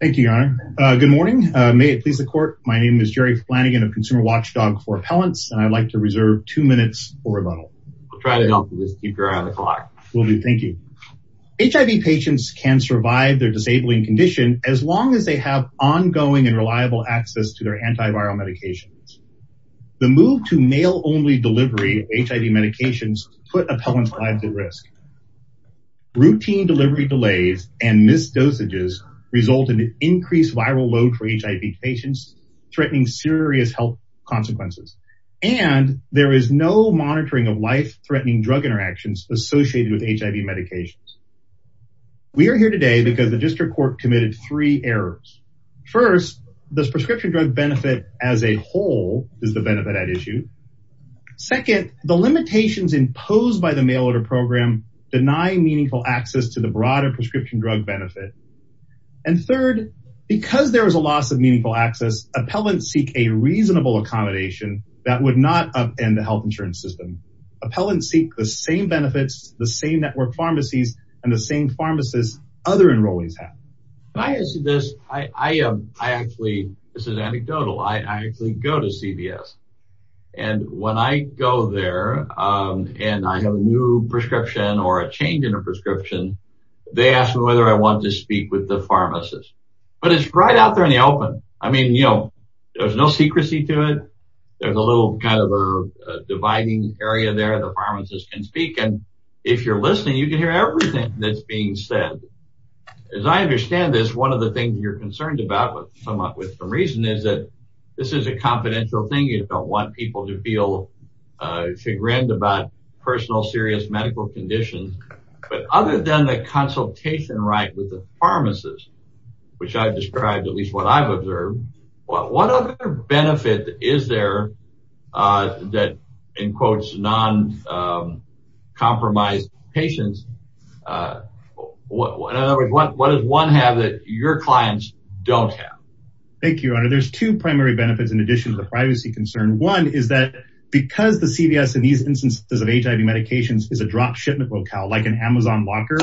Thank you, your honor. Good morning. May it please the court. My name is Jerry Flanagan of Consumer Watchdog for Appellants, and I'd like to reserve two minutes for rebuttal. We'll try to help you, just keep your eye on the clock. Will do. Thank you. HIV patients can survive their disabling condition as long as they have ongoing and reliable access to their antiviral medications. The move to mail-only delivery of HIV medications put appellants' lives at risk. Routine delivery delays and missed dosages result in an increased viral load for HIV patients, threatening serious health consequences, and there is no monitoring of life-threatening drug interactions associated with HIV medications. We are here today because the district court committed three errors. First, the prescription drug benefit as a whole is the benefit at issue. Second, the limitations imposed by the mail-order program deny meaningful access to the broader prescription drug benefit. And third, because there is a loss of meaningful access, appellants seek a reasonable accommodation that would not upend the health insurance system. Appellants seek the same benefits, the same network pharmacies, and the same pharmacists other enrollees have. When I answer this, I actually, this is anecdotal, I actually go to CVS. And when I go there and I have a new prescription or a change in a prescription, they ask me whether I want to speak with the pharmacist. But it's right out there in the open. I mean, you know, there's no secrecy to it. There's a little kind of a dividing area there the pharmacist can speak in. If you're listening, you can hear everything that's being said. As I understand this, one of the things you're concerned about, with some reason, is that this is a confidential thing. You don't want people to feel chagrined about personal serious medical conditions. But other than the consultation right with the pharmacist, which I've described, at least what I've observed, what other benefit is there that, in quotes, non-compromised patients In other words, what does one have that your clients don't have? Thank you, Your Honor. There's two primary benefits in addition to the privacy concern. One is that because the CVS in these instances of HIV medications is a drop shipment locale, like an Amazon locker,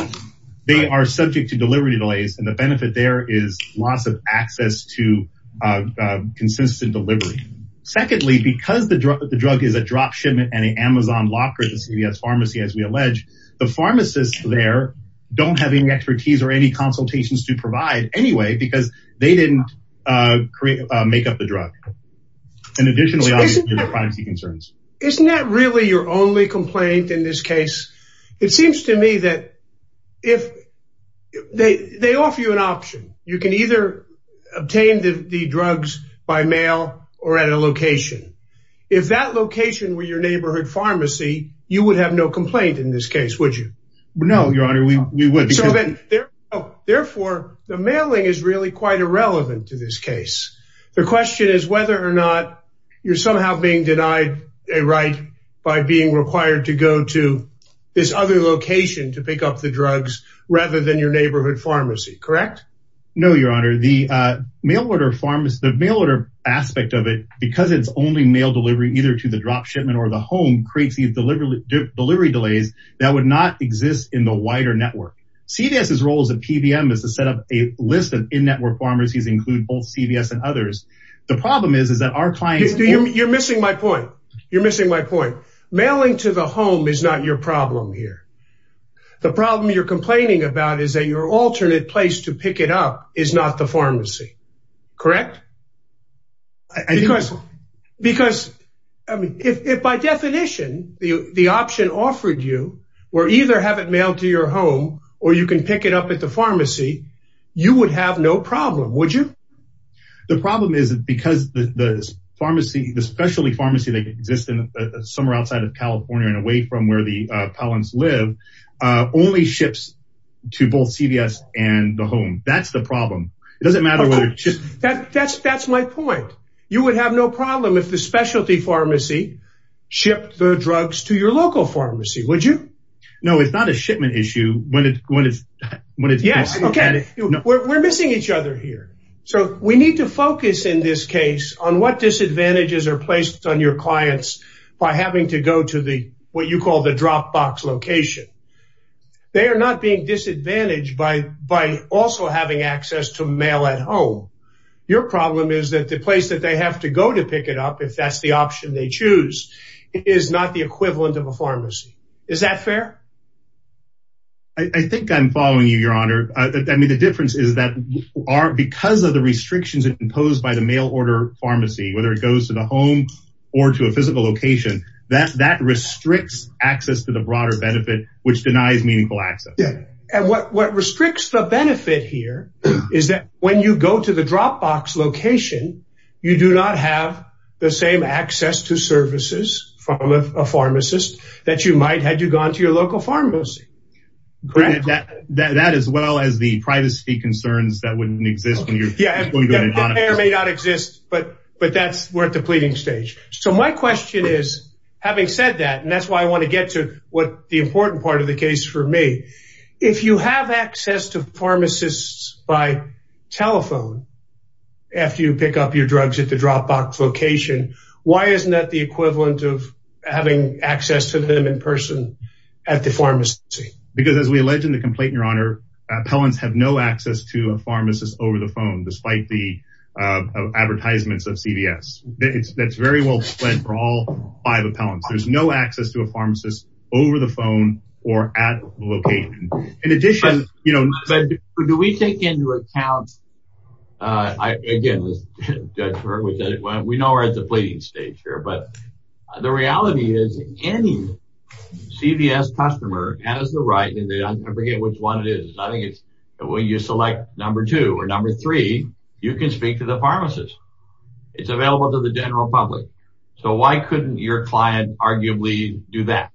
they are subject to delivery delays. And the benefit there is loss of access to consistent delivery. Secondly, because the drug is a drop shipment and an Amazon locker at the CVS pharmacy, as we allege, the pharmacists there don't have any expertise or any consultations to provide anyway, because they didn't make up the drug. And additionally, obviously, there are privacy concerns. Isn't that really your only complaint in this case? It seems to me that if they offer you an option, you can either obtain the drugs by mail or at a location. If that location were your neighborhood pharmacy, you would have no complaint in this case, would you? No, Your Honor. Therefore, the mailing is really quite irrelevant to this case. The question is whether or not you're somehow being denied a right by being required to go to this other location to pick up the drugs rather than your neighborhood pharmacy, correct? No, Your Honor. The mail order pharmacy, the mail order aspect of it, because it's only mail delivery either to the drop shipment or the home, creates these delivery delays that would not exist in the wider network. CVS's role as a PBM is to set up a list of in-network pharmacies, include both CVS and others. The problem is, is that our clients... You're missing my point. You're missing my point. Mailing to the home is not your problem here. The problem you're complaining about is that your alternate place to pick it up is not the pharmacy, correct? Because if, by definition, the option offered you were either have it mailed to your home or you can pick it up at the pharmacy, you would have no problem, would you? The problem is that because the pharmacy, the specialty pharmacy that exists somewhere outside of California and away from where the Palins live, only ships to both CVS and the home. That's the problem. It doesn't matter whether it's just... That's my point. You would have no problem if the specialty pharmacy shipped the drugs to your local pharmacy, would you? No, it's not a shipment issue when it's... Yes. Okay. We're missing each other here. So we need to focus in this case on what disadvantages are placed on your clients by having to go to what you call the drop box location. They are not being disadvantaged by also having access to mail at home. Your problem is that the place that they have to go to pick it up, if that's the option they choose, is not the equivalent of a pharmacy. Is that fair? I think I'm following you, Your Honor. I mean, the difference is that because of the restrictions imposed by the mail order pharmacy, whether it goes to the home or to a physical location, that restricts access to the broader benefit, which denies meaningful access. What restricts the benefit here is that when you go to the drop box location, you do not have the same access to services from a pharmacist that you might had you gone to your local pharmacy. That as well as the privacy concerns that wouldn't exist when you're going to an adjunct. Yeah, that may or may not exist, but we're at the pleading stage. So my question is, having said that, and that's why I want to get to what the important part of the case for me. If you have access to pharmacists by telephone, after you pick up your drugs at the drop box location, why isn't that the equivalent of having access to them in person at the pharmacy? Because as we allege in the complaint, Your Honor, appellants have no access to a pharmacist over the phone, despite the advertisements of CVS. That's very well said for all five appellants. There's no access to a pharmacist over the phone or at the location. In addition, you know, do we take into account, again, we know we're at the pleading stage here, but the reality is any CVS customer has the right, and I forget which one it is. I think it's when you select number two or number three, you can speak to the pharmacist. It's available to the general public. So why couldn't your client arguably do that?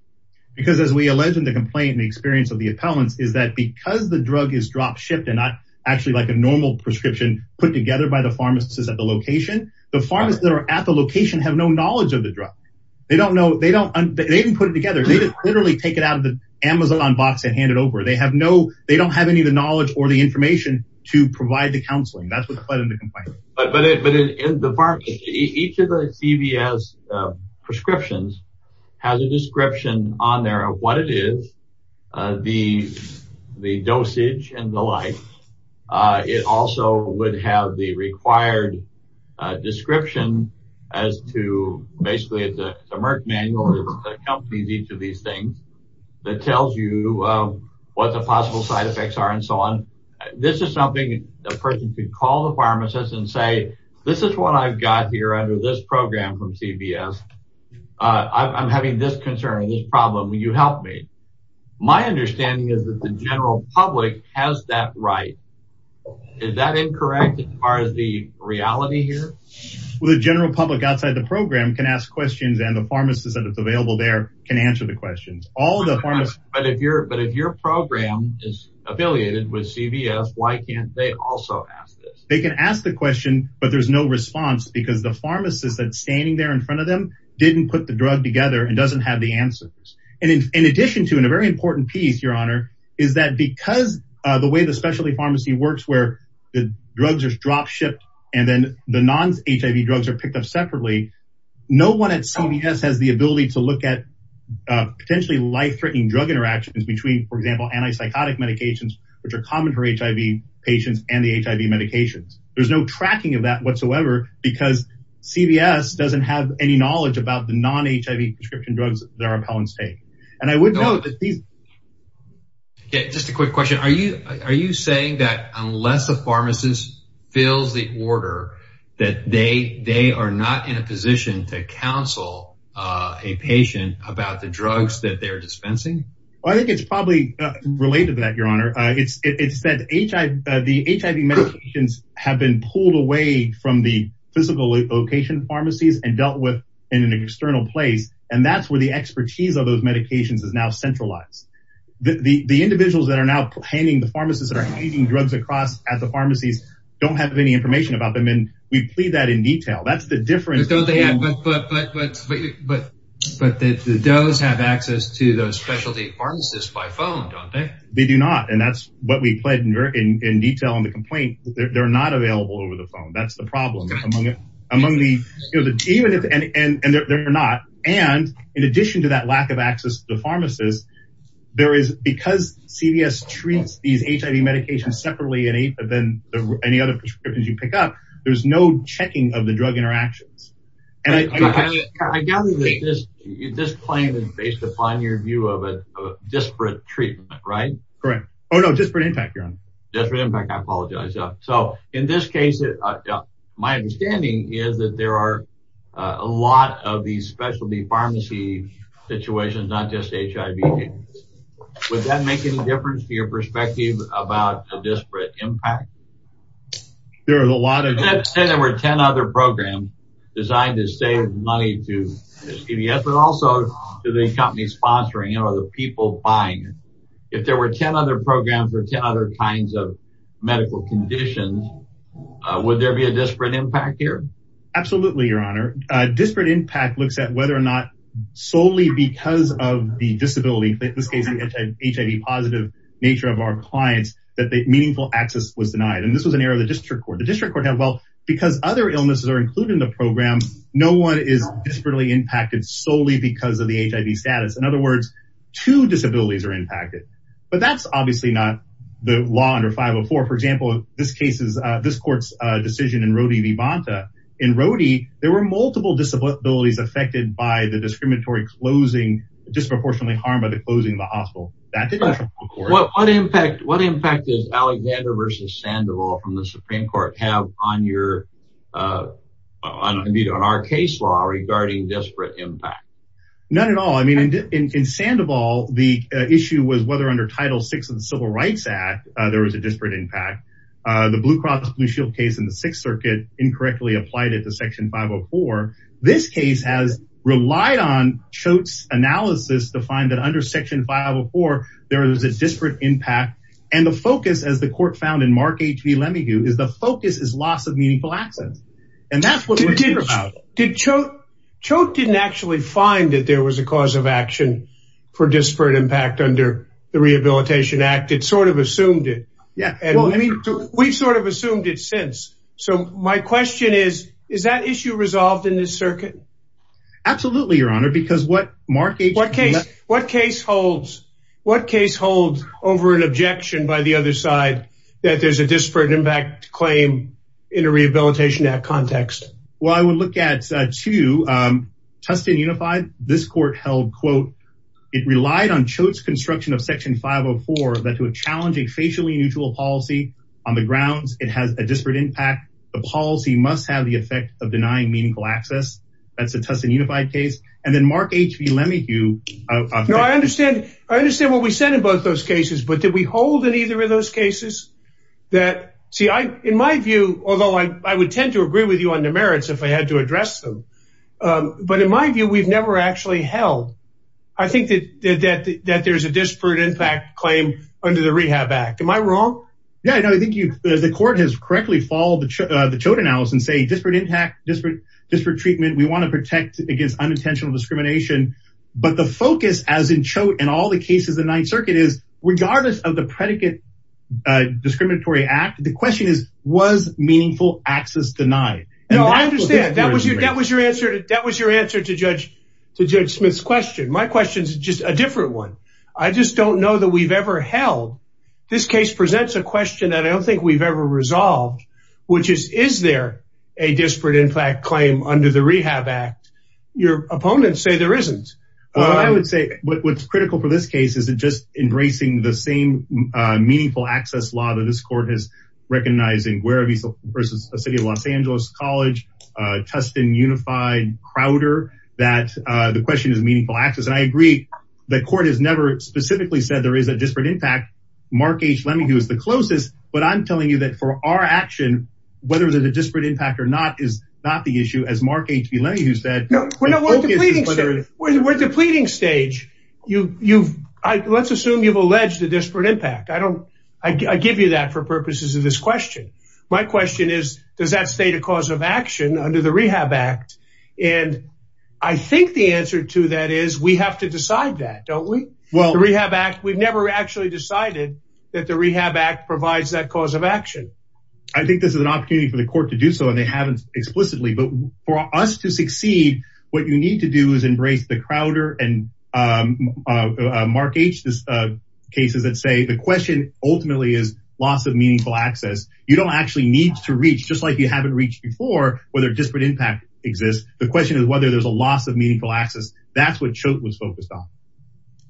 Because as we allege in the complaint, the experience of the appellants is that because the drug is drop shipped and not actually like a normal prescription put together by the pharmacist at the location, the pharmacists that are at the location have no knowledge of the drug. They don't know. They don't. They didn't put it together. They literally take it out of the Amazon box and hand it over. They have no they don't have any of the knowledge or the information to provide the counseling. That's what the complaint is. But in the pharmacy, each of the CVS prescriptions has a description on there of what it is, the the dosage and the like. It also would have the required description as to basically it's a Merck manual that accompanies each of these things that tells you what the possible side effects are and this is something a person could call the pharmacist and say, this is what I've got here under this program from CVS. I'm having this concern, this problem. Will you help me? My understanding is that the general public has that right. Is that incorrect as far as the reality here? Well, the general public outside the program can ask questions and the pharmacist that is available there can answer the questions. But if your program is affiliated with CVS, why can't they also ask this? They can ask the question, but there's no response because the pharmacist that's standing there in front of them didn't put the drug together and doesn't have the answers. And in addition to in a very important piece, Your Honor, is that because the way the specialty pharmacy works, where the drugs are drop shipped and then the non-HIV drugs are picked up separately, no one at CVS has the ability to look at potentially life-threatening drug interactions between, for example, anti-psychotic medications, which are common for HIV patients and the HIV medications. There's no tracking of that whatsoever because CVS doesn't have any knowledge about the non-HIV prescription drugs that our appellants take. And I would note that these. Just a quick question. Are you are you saying that unless a pharmacist fills the order that they they are not in a position to counsel a patient about the drugs that they're dispensing? Well, I think it's probably related to that, Your Honor. It's that the HIV medications have been pulled away from the physical location pharmacies and dealt with in an external place. And that's where the expertise of those medications is now centralized. The individuals that are now handing the pharmacists that are handing drugs across at the pharmacies don't have any information about them. And we plead that in detail. That's the difference. But but but but but but the does have access to those specialty pharmacists by phone, don't they? They do not. And that's what we plead in detail on the complaint. They're not available over the phone. That's the problem among among the even if and they're not. And in addition to that lack of access to the pharmacist, there is because CVS treats these HIV medications separately than any other prescriptions you pick up. There's no checking of the drug interactions. And I gather that this this claim is based upon your view of a disparate treatment, right? Correct. Oh, no. Disparate impact, Your Honor. Disparate impact. I apologize. So in this case, my understanding is that there are a lot of these specialty pharmacy situations, not just HIV. Would that make any difference to your perspective about a disparate impact? There are a lot of... Let's say there were 10 other programs designed to save money to CVS, but also to the company sponsoring it or the people buying it. If there were 10 other programs or 10 other kinds of medical conditions, would there be a disparate impact here? Absolutely, Your Honor. Disparate impact looks at whether or not solely because of the disability, in this case, HIV positive nature of our clients, that the meaningful access was denied. And this was an error of the district court. The district court had, well, because other illnesses are included in the program, no one is disparately impacted solely because of the HIV status. In other words, two disabilities are impacted. But that's obviously not the law under 504. For example, this court's decision in Rhodey v. Bonta, in Rhodey, there were multiple disabilities affected by the discriminatory closing, disproportionately harmed by the closing of the hospital. What impact does Alexander v. Sandoval from the Supreme Court have on our case law regarding disparate impact? None at all. I mean, in Sandoval, the issue was whether under Title VI of the Civil Rights Act, there was a disparate impact. The Blue Cross Blue Shield case in the Sixth Circuit incorrectly applied it to Section 504. This case has relied on Choate's analysis to find that under Section 504, there is a disparate impact. And the focus, as the court found in Mark H.V. Lemahieu, is the focus is loss of meaningful access. And that's what we're here about. Did Choate, Choate didn't actually find that there was a cause of action for disparate impact under the Rehabilitation Act. It sort of assumed it. Yeah. Well, I mean, we've sort of assumed it since. So my question is, is that issue resolved in this circuit? Absolutely, Your Honor, because what Mark H.V. What case, what case holds, what case holds over an objection by the other side that there's a disparate impact claim in a Rehabilitation Act context? Well, I would look at two. Tustin Unified, this court held, quote, it relied on Choate's construction of Section 504 that to a challenging, facially neutral policy on the grounds it has a disparate impact. The policy must have the effect of denying meaningful access. That's a Tustin Unified case. And then Mark H.V. Lemahieu. No, I understand. I understand what we said in both those cases. But did we hold in either of those cases that, see, in my view, although I would tend to agree with you on the merits if I had to address them, but in my view, we've never actually held. I think that there's a disparate impact claim under the Rehab Act. Am I wrong? Yeah, I think the court has correctly followed the Choate analysis and say disparate impact, disparate treatment. We want to protect against unintentional discrimination. But the focus, as in Choate and all the cases in the Ninth Circuit, is regardless of the predicate discriminatory act, the question is, was meaningful access denied? No, I understand. That was your answer to Judge Smith's question. My question is just a different one. I just don't know that we've ever held. This case presents a question that I don't think we've ever resolved, which is, is there a disparate impact claim under the Rehab Act? Your opponents say there isn't. Well, I would say what's critical for this case is just embracing the same meaningful access law that this court has recognized in Guaravis versus the City of Los Angeles College, Tustin, Unified, Crowder, that the question is meaningful access. And I agree the court has never specifically said there is a disparate impact. Mark H. Lemahieu is the closest. But I'm telling you that for our action, whether there's a disparate impact or not is not the issue, as Mark H. B. Lemahieu said. No, we're at the pleading stage. You've let's assume you've alleged a disparate impact. I don't I give you that for purposes of this question. My question is, does that state a cause of action under the Rehab Act? And I think the answer to that is we have to decide that, don't we? Well, the Rehab Act, we've never actually decided that the Rehab Act provides that cause of action. I think this is an opportunity for the court to do so. And they haven't explicitly. But for us to succeed, what you need to do is embrace the Crowder and Mark H. cases that say the question ultimately is loss of meaningful access. You don't actually need to reach, just like you haven't reached before, whether disparate impact exists. The question is whether there's a loss of meaningful access. That's what Chote was focused on.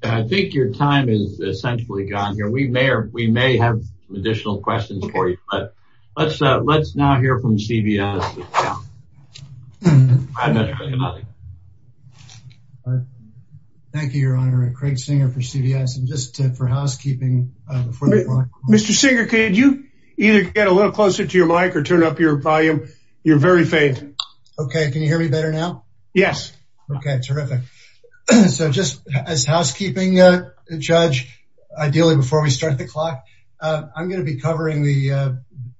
And I think your time is essentially gone here. We may or we may have additional questions for you. But let's let's now hear from CBI. Thank you, Your Honor. Craig Singer for CBS. And just for housekeeping, before we go on, Mr. Singer, could you either get a little closer to your mic or turn up your volume? You're very faint. Okay. Can you hear me better now? Yes. Okay. Terrific. So just as housekeeping judge, ideally before we start the clock, I'm going to be covering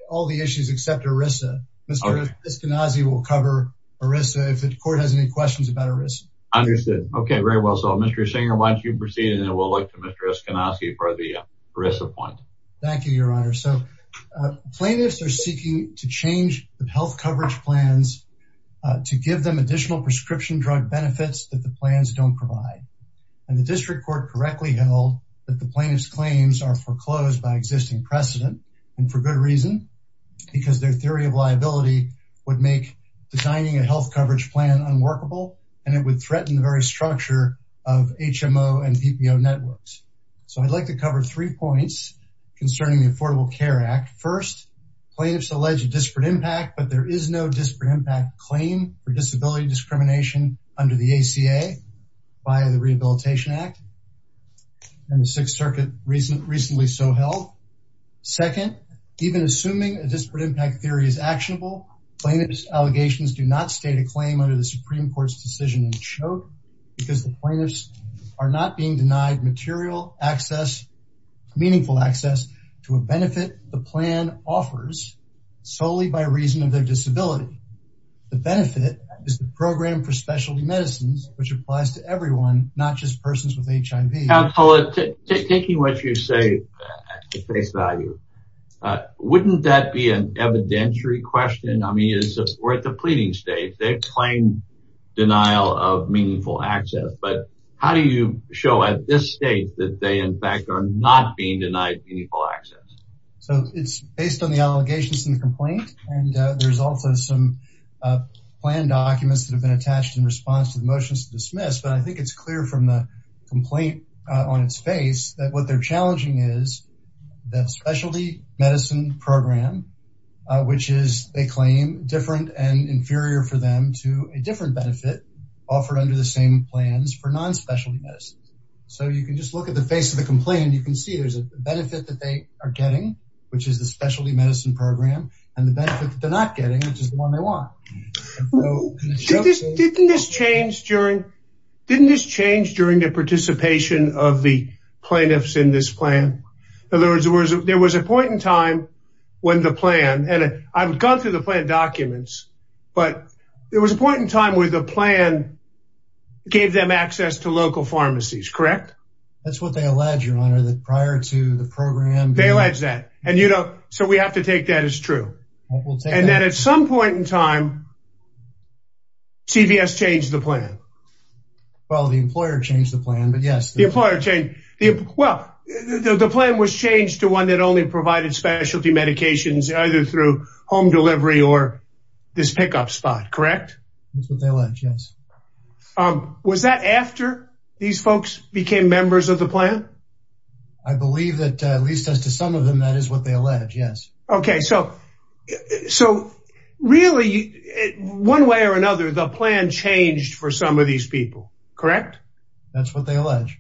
all the issues except ERISA. Mr. Eskenazi will cover ERISA if the court has any questions about ERISA. Understood. Okay. Very well. So Mr. Singer, why don't you proceed and then we'll look to Mr. Eskenazi for the ERISA point. Thank you, Your Honor. So plaintiffs are seeking to change the health coverage plans to give them additional prescription drug benefits that the plans don't provide. And the district court correctly held that the plaintiff's claims are foreclosed by a theory of liability would make designing a health coverage plan unworkable, and it would threaten the very structure of HMO and PPO networks. So I'd like to cover three points concerning the Affordable Care Act. First, plaintiffs allege a disparate impact, but there is no disparate impact claim for disability discrimination under the ACA by the Rehabilitation Act and the Sixth Circuit recently so held. Second, even assuming a disparate impact theory is actionable, plaintiff's allegations do not state a claim under the Supreme Court's decision in Choate because the plaintiffs are not being denied material access, meaningful access to a benefit the plan offers solely by reason of their disability. The benefit is the program for specialty medicines, which applies to everyone, not just persons with HIV. Counselor, taking what you say at face value, wouldn't that be an evidentiary question? I mean, we're at the pleading stage. They claim denial of meaningful access. But how do you show at this state that they, in fact, are not being denied meaningful access? So it's based on the allegations in the complaint, and there's also some plan documents that have been attached in response to the motions to dismiss. But I think it's clear from the complaint on its face that what they're challenging is that specialty medicine program, which is, they claim, different and inferior for them to a different benefit offered under the same plans for non-specialty medicine. So you can just look at the face of the complaint. You can see there's a benefit that they are getting, which is the specialty medicine program, and the benefit that they're not getting, which is the one they want. Didn't this change during the participation of the plaintiffs in this plan? In other words, there was a point in time when the plan, and I've gone through the plan documents, but there was a point in time where the plan gave them access to local pharmacies, correct? That's what they allege, your honor, that prior to the program. They allege that. And, you know, so we have to take that as true. And then at some point in time, CVS changed the plan. Well, the employer changed the plan, but yes. The employer changed. Well, the plan was changed to one that only provided specialty medications, either through home delivery or this pickup spot, correct? That's what they allege, yes. Was that after these folks became members of the plan? I believe that at least as to some of them, that is what they allege, yes. Okay. So, so really, one way or another, the plan changed for some of these people, correct? That's what they allege.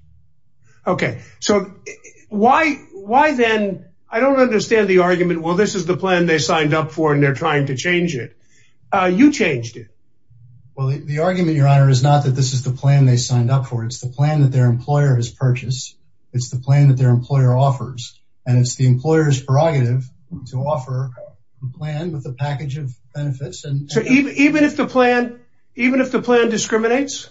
Okay. So why, why then, I don't understand the argument, well, this is the plan they signed up for and they're trying to change it. You changed it. Well, the argument, your honor, is not that this is the plan they signed up for. It's the plan that their employer has purchased. It's the plan that their employer offers. And it's the employer's prerogative to offer a plan with a package of benefits. So even if the plan, even if the plan discriminates?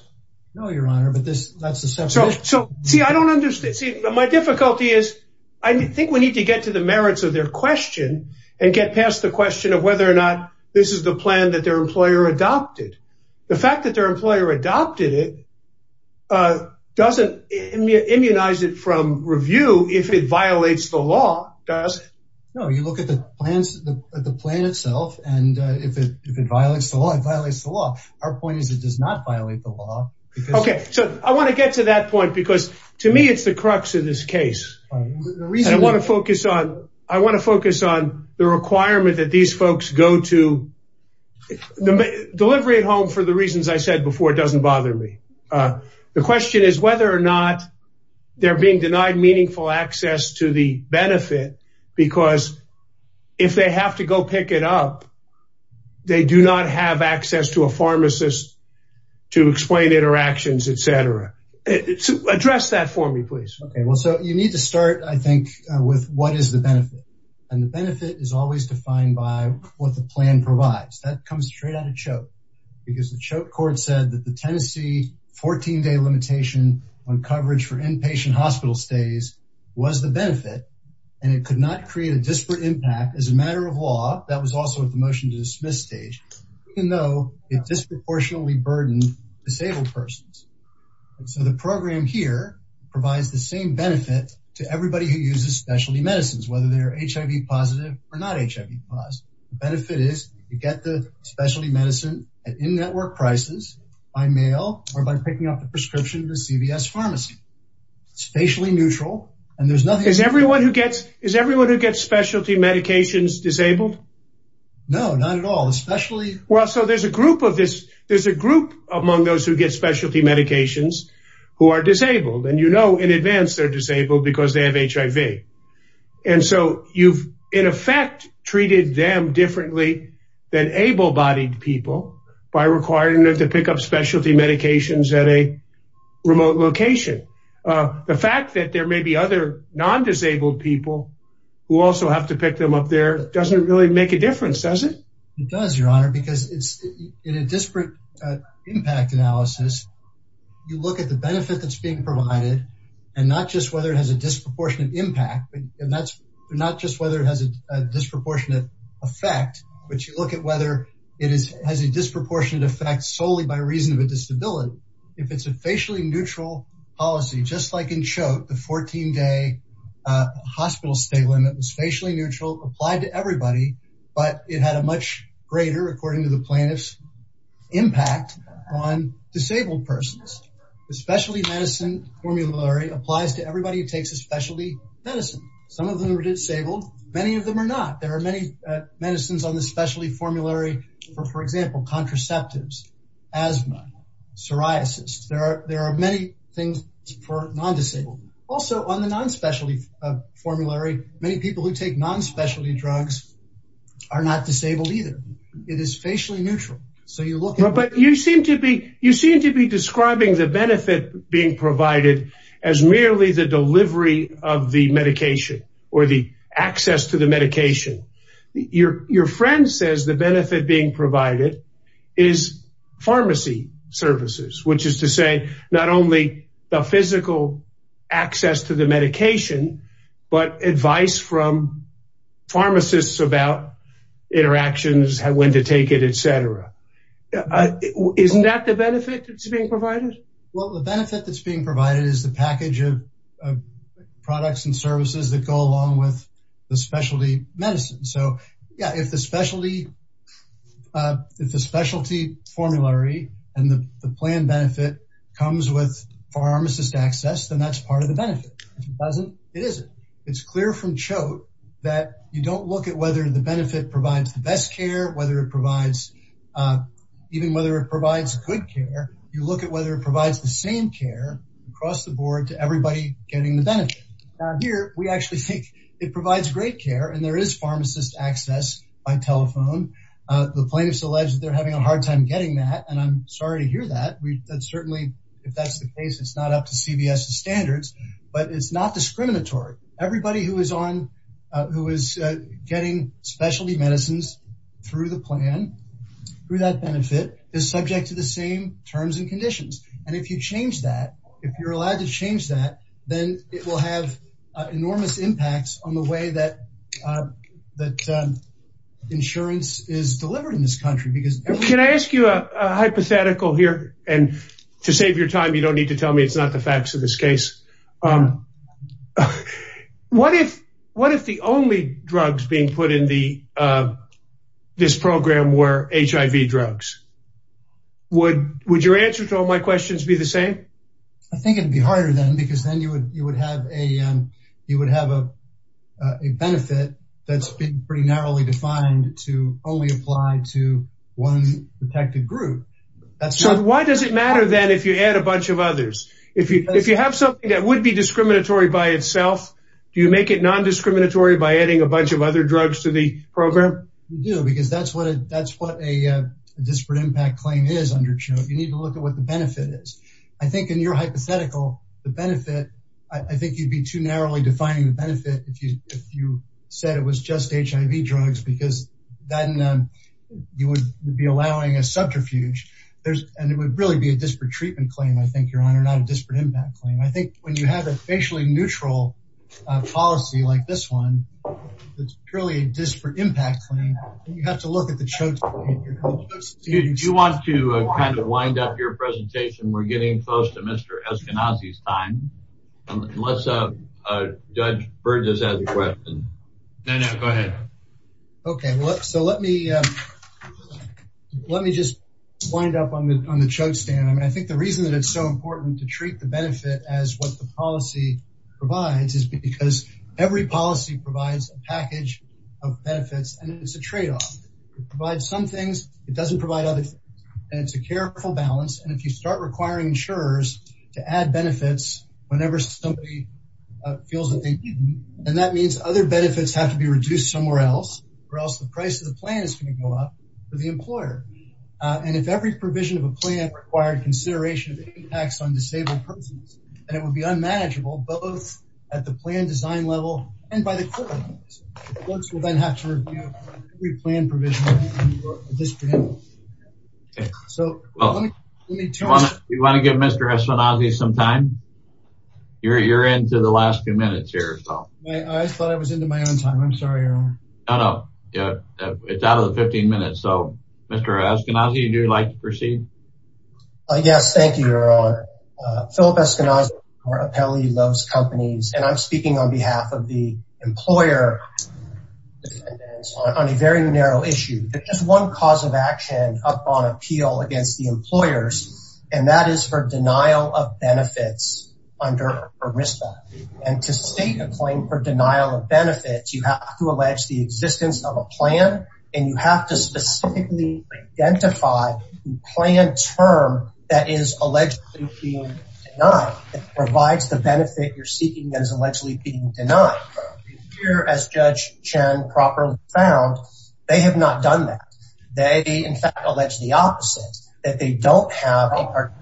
No, your honor, but this, that's the subject. So, see, I don't understand. My difficulty is, I think we need to get to the merits of their question and get past the question of whether or not this is the plan that their employer adopted. The fact that their employer adopted it doesn't immunize it from review if it violates the law, does it? No, you look at the plans, the plan itself, and if it violates the law, it violates the law. Our point is, it does not violate the law. Okay. So I want to get to that point because to me, it's the crux of this case. The reason I want to focus on, I want to focus on the requirement that these folks go to delivery at home for the reasons I said before. It doesn't bother me. The question is whether or not they're being denied meaningful access to the benefit, because if they have to go pick it up, they do not have access to a pharmacist to explain interactions, et cetera. Address that for me, please. Okay. Well, so you need to start, I think, with what is the benefit. And the benefit is always defined by what the plan provides. That comes straight out of CHOKE, because the CHOKE court said that the Tennessee 14 day limitation on coverage for inpatient hospital stays was the benefit and it could not create a disparate impact as a matter of law. That was also at the motion to dismiss stage, even though it disproportionately burdened disabled persons. So the program here provides the same benefit to everybody who uses specialty medicines, whether they're HIV positive or not HIV positive. The benefit is you get the specialty medicine at in-network prices by mail or by picking up the prescription at the CVS pharmacy. It's facially neutral and there's nothing. Is everyone who gets is everyone who gets specialty medications disabled? No, not at all. Especially. Well, so there's a group of this. There's a group among those who get specialty medications who are disabled. And, you know, in advance, they're disabled because they have HIV. And so you've, in effect, treated them differently than able bodied people by requiring them to pick up specialty medications at a remote location. The fact that there may be other non-disabled people who also have to pick them up there doesn't really make a difference, does it? It does, your honor, because it's in a disparate impact analysis. You look at the benefit that's being provided and not just whether it has a disproportionate impact. And that's not just whether it has a disproportionate effect, but you look at whether it is has a disproportionate effect solely by reason of a disability. If it's a facially neutral policy, just like in Choate, the 14 day hospital stay limit was facially neutral, applied to everybody, but it had a much greater, according to the plaintiffs, impact on disabled persons. The specialty medicine formulary applies to everybody who takes a specialty medicine. Some of them are disabled. Many of them are not. There are many medicines on the specialty formulary, for example, contraceptives, asthma, psoriasis. There are there are many things for non-disabled. Also on the non-specialty formulary, many people who take non-specialty drugs are not disabled either. It is facially neutral. So you look. But you seem to be you seem to be describing the benefit being provided as merely the medication. Your friend says the benefit being provided is pharmacy services, which is to say not only the physical access to the medication, but advice from pharmacists about interactions, when to take it, etc. Isn't that the benefit that's being provided? Well, the benefit that's being provided is the package of products and services that go along with the specialty medicine. So, yeah, if the specialty, if the specialty formulary and the plan benefit comes with pharmacist access, then that's part of the benefit. If it doesn't, it isn't. It's clear from Choate that you don't look at whether the benefit provides the best care, whether it provides even whether it provides good care. You look at whether it provides the same care across the board to everybody getting the benefit. So here we actually think it provides great care and there is pharmacist access by telephone. The plaintiffs allege that they're having a hard time getting that. And I'm sorry to hear that. That's certainly if that's the case, it's not up to CVS standards, but it's not discriminatory. Everybody who is on who is getting specialty medicines through the plan, through that benefit, is subject to the same terms and conditions. And if you change that, if you're allowed to change that, then it will have enormous impacts on the way that that insurance is delivered in this country. Because can I ask you a hypothetical here? And to save your time, you don't need to tell me it's not the facts of this case. What if what if the only drugs being put in the this program were HIV drugs? Would your answer to all my questions be the same? I think it'd be harder then because then you would have a benefit that's been pretty narrowly defined to only apply to one protected group. So why does it matter then if you add a bunch of others? If you have something that would be discriminatory by itself, do you make it non-discriminatory by adding a bunch of other drugs to the program? You do, because that's what that's what a disparate impact claim is. You need to look at what the benefit is. I think in your hypothetical, the benefit, I think you'd be too narrowly defining the benefit if you if you said it was just HIV drugs, because then you would be allowing a subterfuge. And it would really be a disparate treatment claim, I think, your honor, not a disparate impact claim. I think when you have a facially neutral policy like this one, it's purely a disparate impact claim. You have to look at the chokes. Do you want to kind of wind up your presentation? We're getting close to Mr. Eskenazi's time. Let's uh, Judge Burgess has a question. No, no, go ahead. OK, so let me let me just wind up on the chokes stand. I mean, I think the reason that it's so important to treat the benefit as what the policy provides a package of benefits. And it's a tradeoff. It provides some things. It doesn't provide others. And it's a careful balance. And if you start requiring insurers to add benefits whenever somebody feels that they need them, then that means other benefits have to be reduced somewhere else or else the price of the plan is going to go up for the employer. And if every provision of a plan required consideration of impacts on disabled and it would be unmanageable, both at the plan design level and by the court. Folks will then have to review every plan provision. So, well, you want to give Mr. Eskenazi some time? You're into the last few minutes here. I thought I was into my own time. I'm sorry. No, no. It's out of the 15 minutes. Yes. Thank you, Your Honor. Philip Eskenazi, our appellee, loves companies. And I'm speaking on behalf of the employer on a very narrow issue. Just one cause of action upon appeal against the employers, and that is for denial of benefits under ERISDA. And to state a claim for denial of benefits, you have to allege the existence of a specifically identified plan term that is allegedly being denied. It provides the benefit you're seeking that is allegedly being denied. Here, as Judge Chen properly found, they have not done that. They, in fact, allege the opposite, that they don't have a particular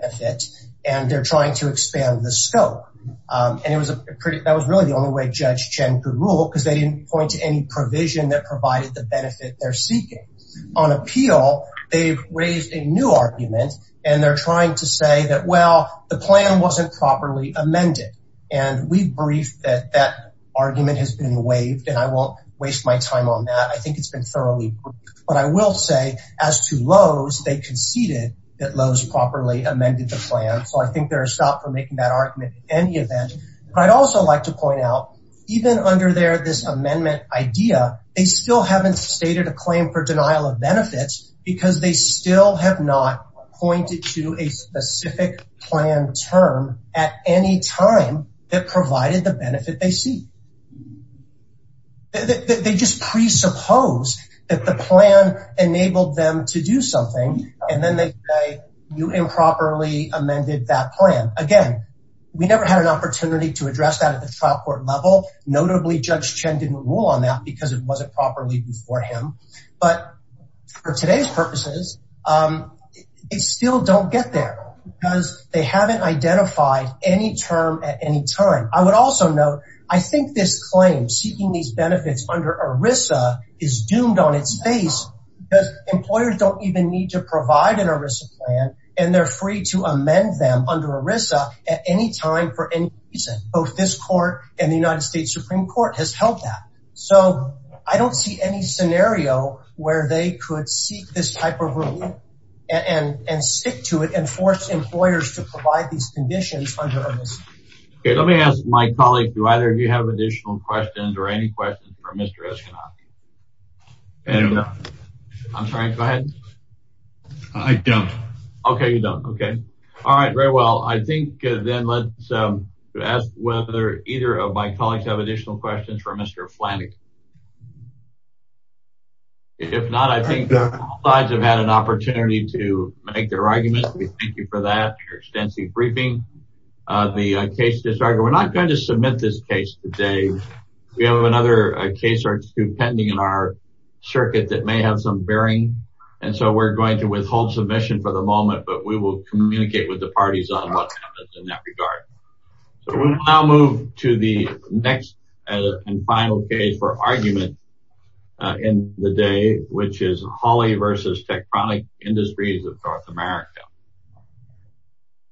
benefit and they're trying to expand the scope. And that was really the only way Judge Chen could rule because they didn't point to any provision that provided the benefit they're seeking. On appeal, they've raised a new argument and they're trying to say that, well, the plan wasn't properly amended. And we briefed that that argument has been waived and I won't waste my time on that. I think it's been thoroughly briefed. But I will say, as to Lowe's, they conceded that Lowe's properly amended the plan. So I think there is stop for making that argument in any event. I'd also like to point out, even under there, this amendment idea, they still haven't stated a claim for denial of benefits because they still have not pointed to a specific plan term at any time that provided the benefit they seek. They just presuppose that the plan enabled them to do something and then they say, you improperly amended that plan. Again, we never had an opportunity to address that at the trial court level. Notably, Judge Chen didn't rule on that because it wasn't properly before him. But for today's purposes, it still don't get there because they haven't identified any term at any time. I would also note, I think this claim seeking these benefits under ERISA is doomed on its face because employers don't even need to provide an ERISA plan and they're free to amend them under ERISA at any time for any reason. Both this court and the United States Supreme Court has held that. So I don't see any scenario where they could seek this type of rule and stick to it and force employers to provide these conditions under ERISA. Okay. Let me ask my colleague, do either of you have additional questions or any questions for Mr. Eskenazi? I don't know. I'm sorry, go ahead. I don't. Okay. You don't. Okay. All right. Very well. I think then let's ask whether either of my colleagues have additional questions for Mr. Flanig. If not, I think both sides have had an opportunity to make their arguments. We thank you for that, your extensive briefing. The case, we're not going to submit this case today. We have another case pending in our circuit that may have some bearing. And so we're going to withhold submission for the moment, but we will communicate with the parties on what happens in that regard. So we'll now move to the next and final case for argument in the day, which is Hawley versus Tektronik Industries of North America.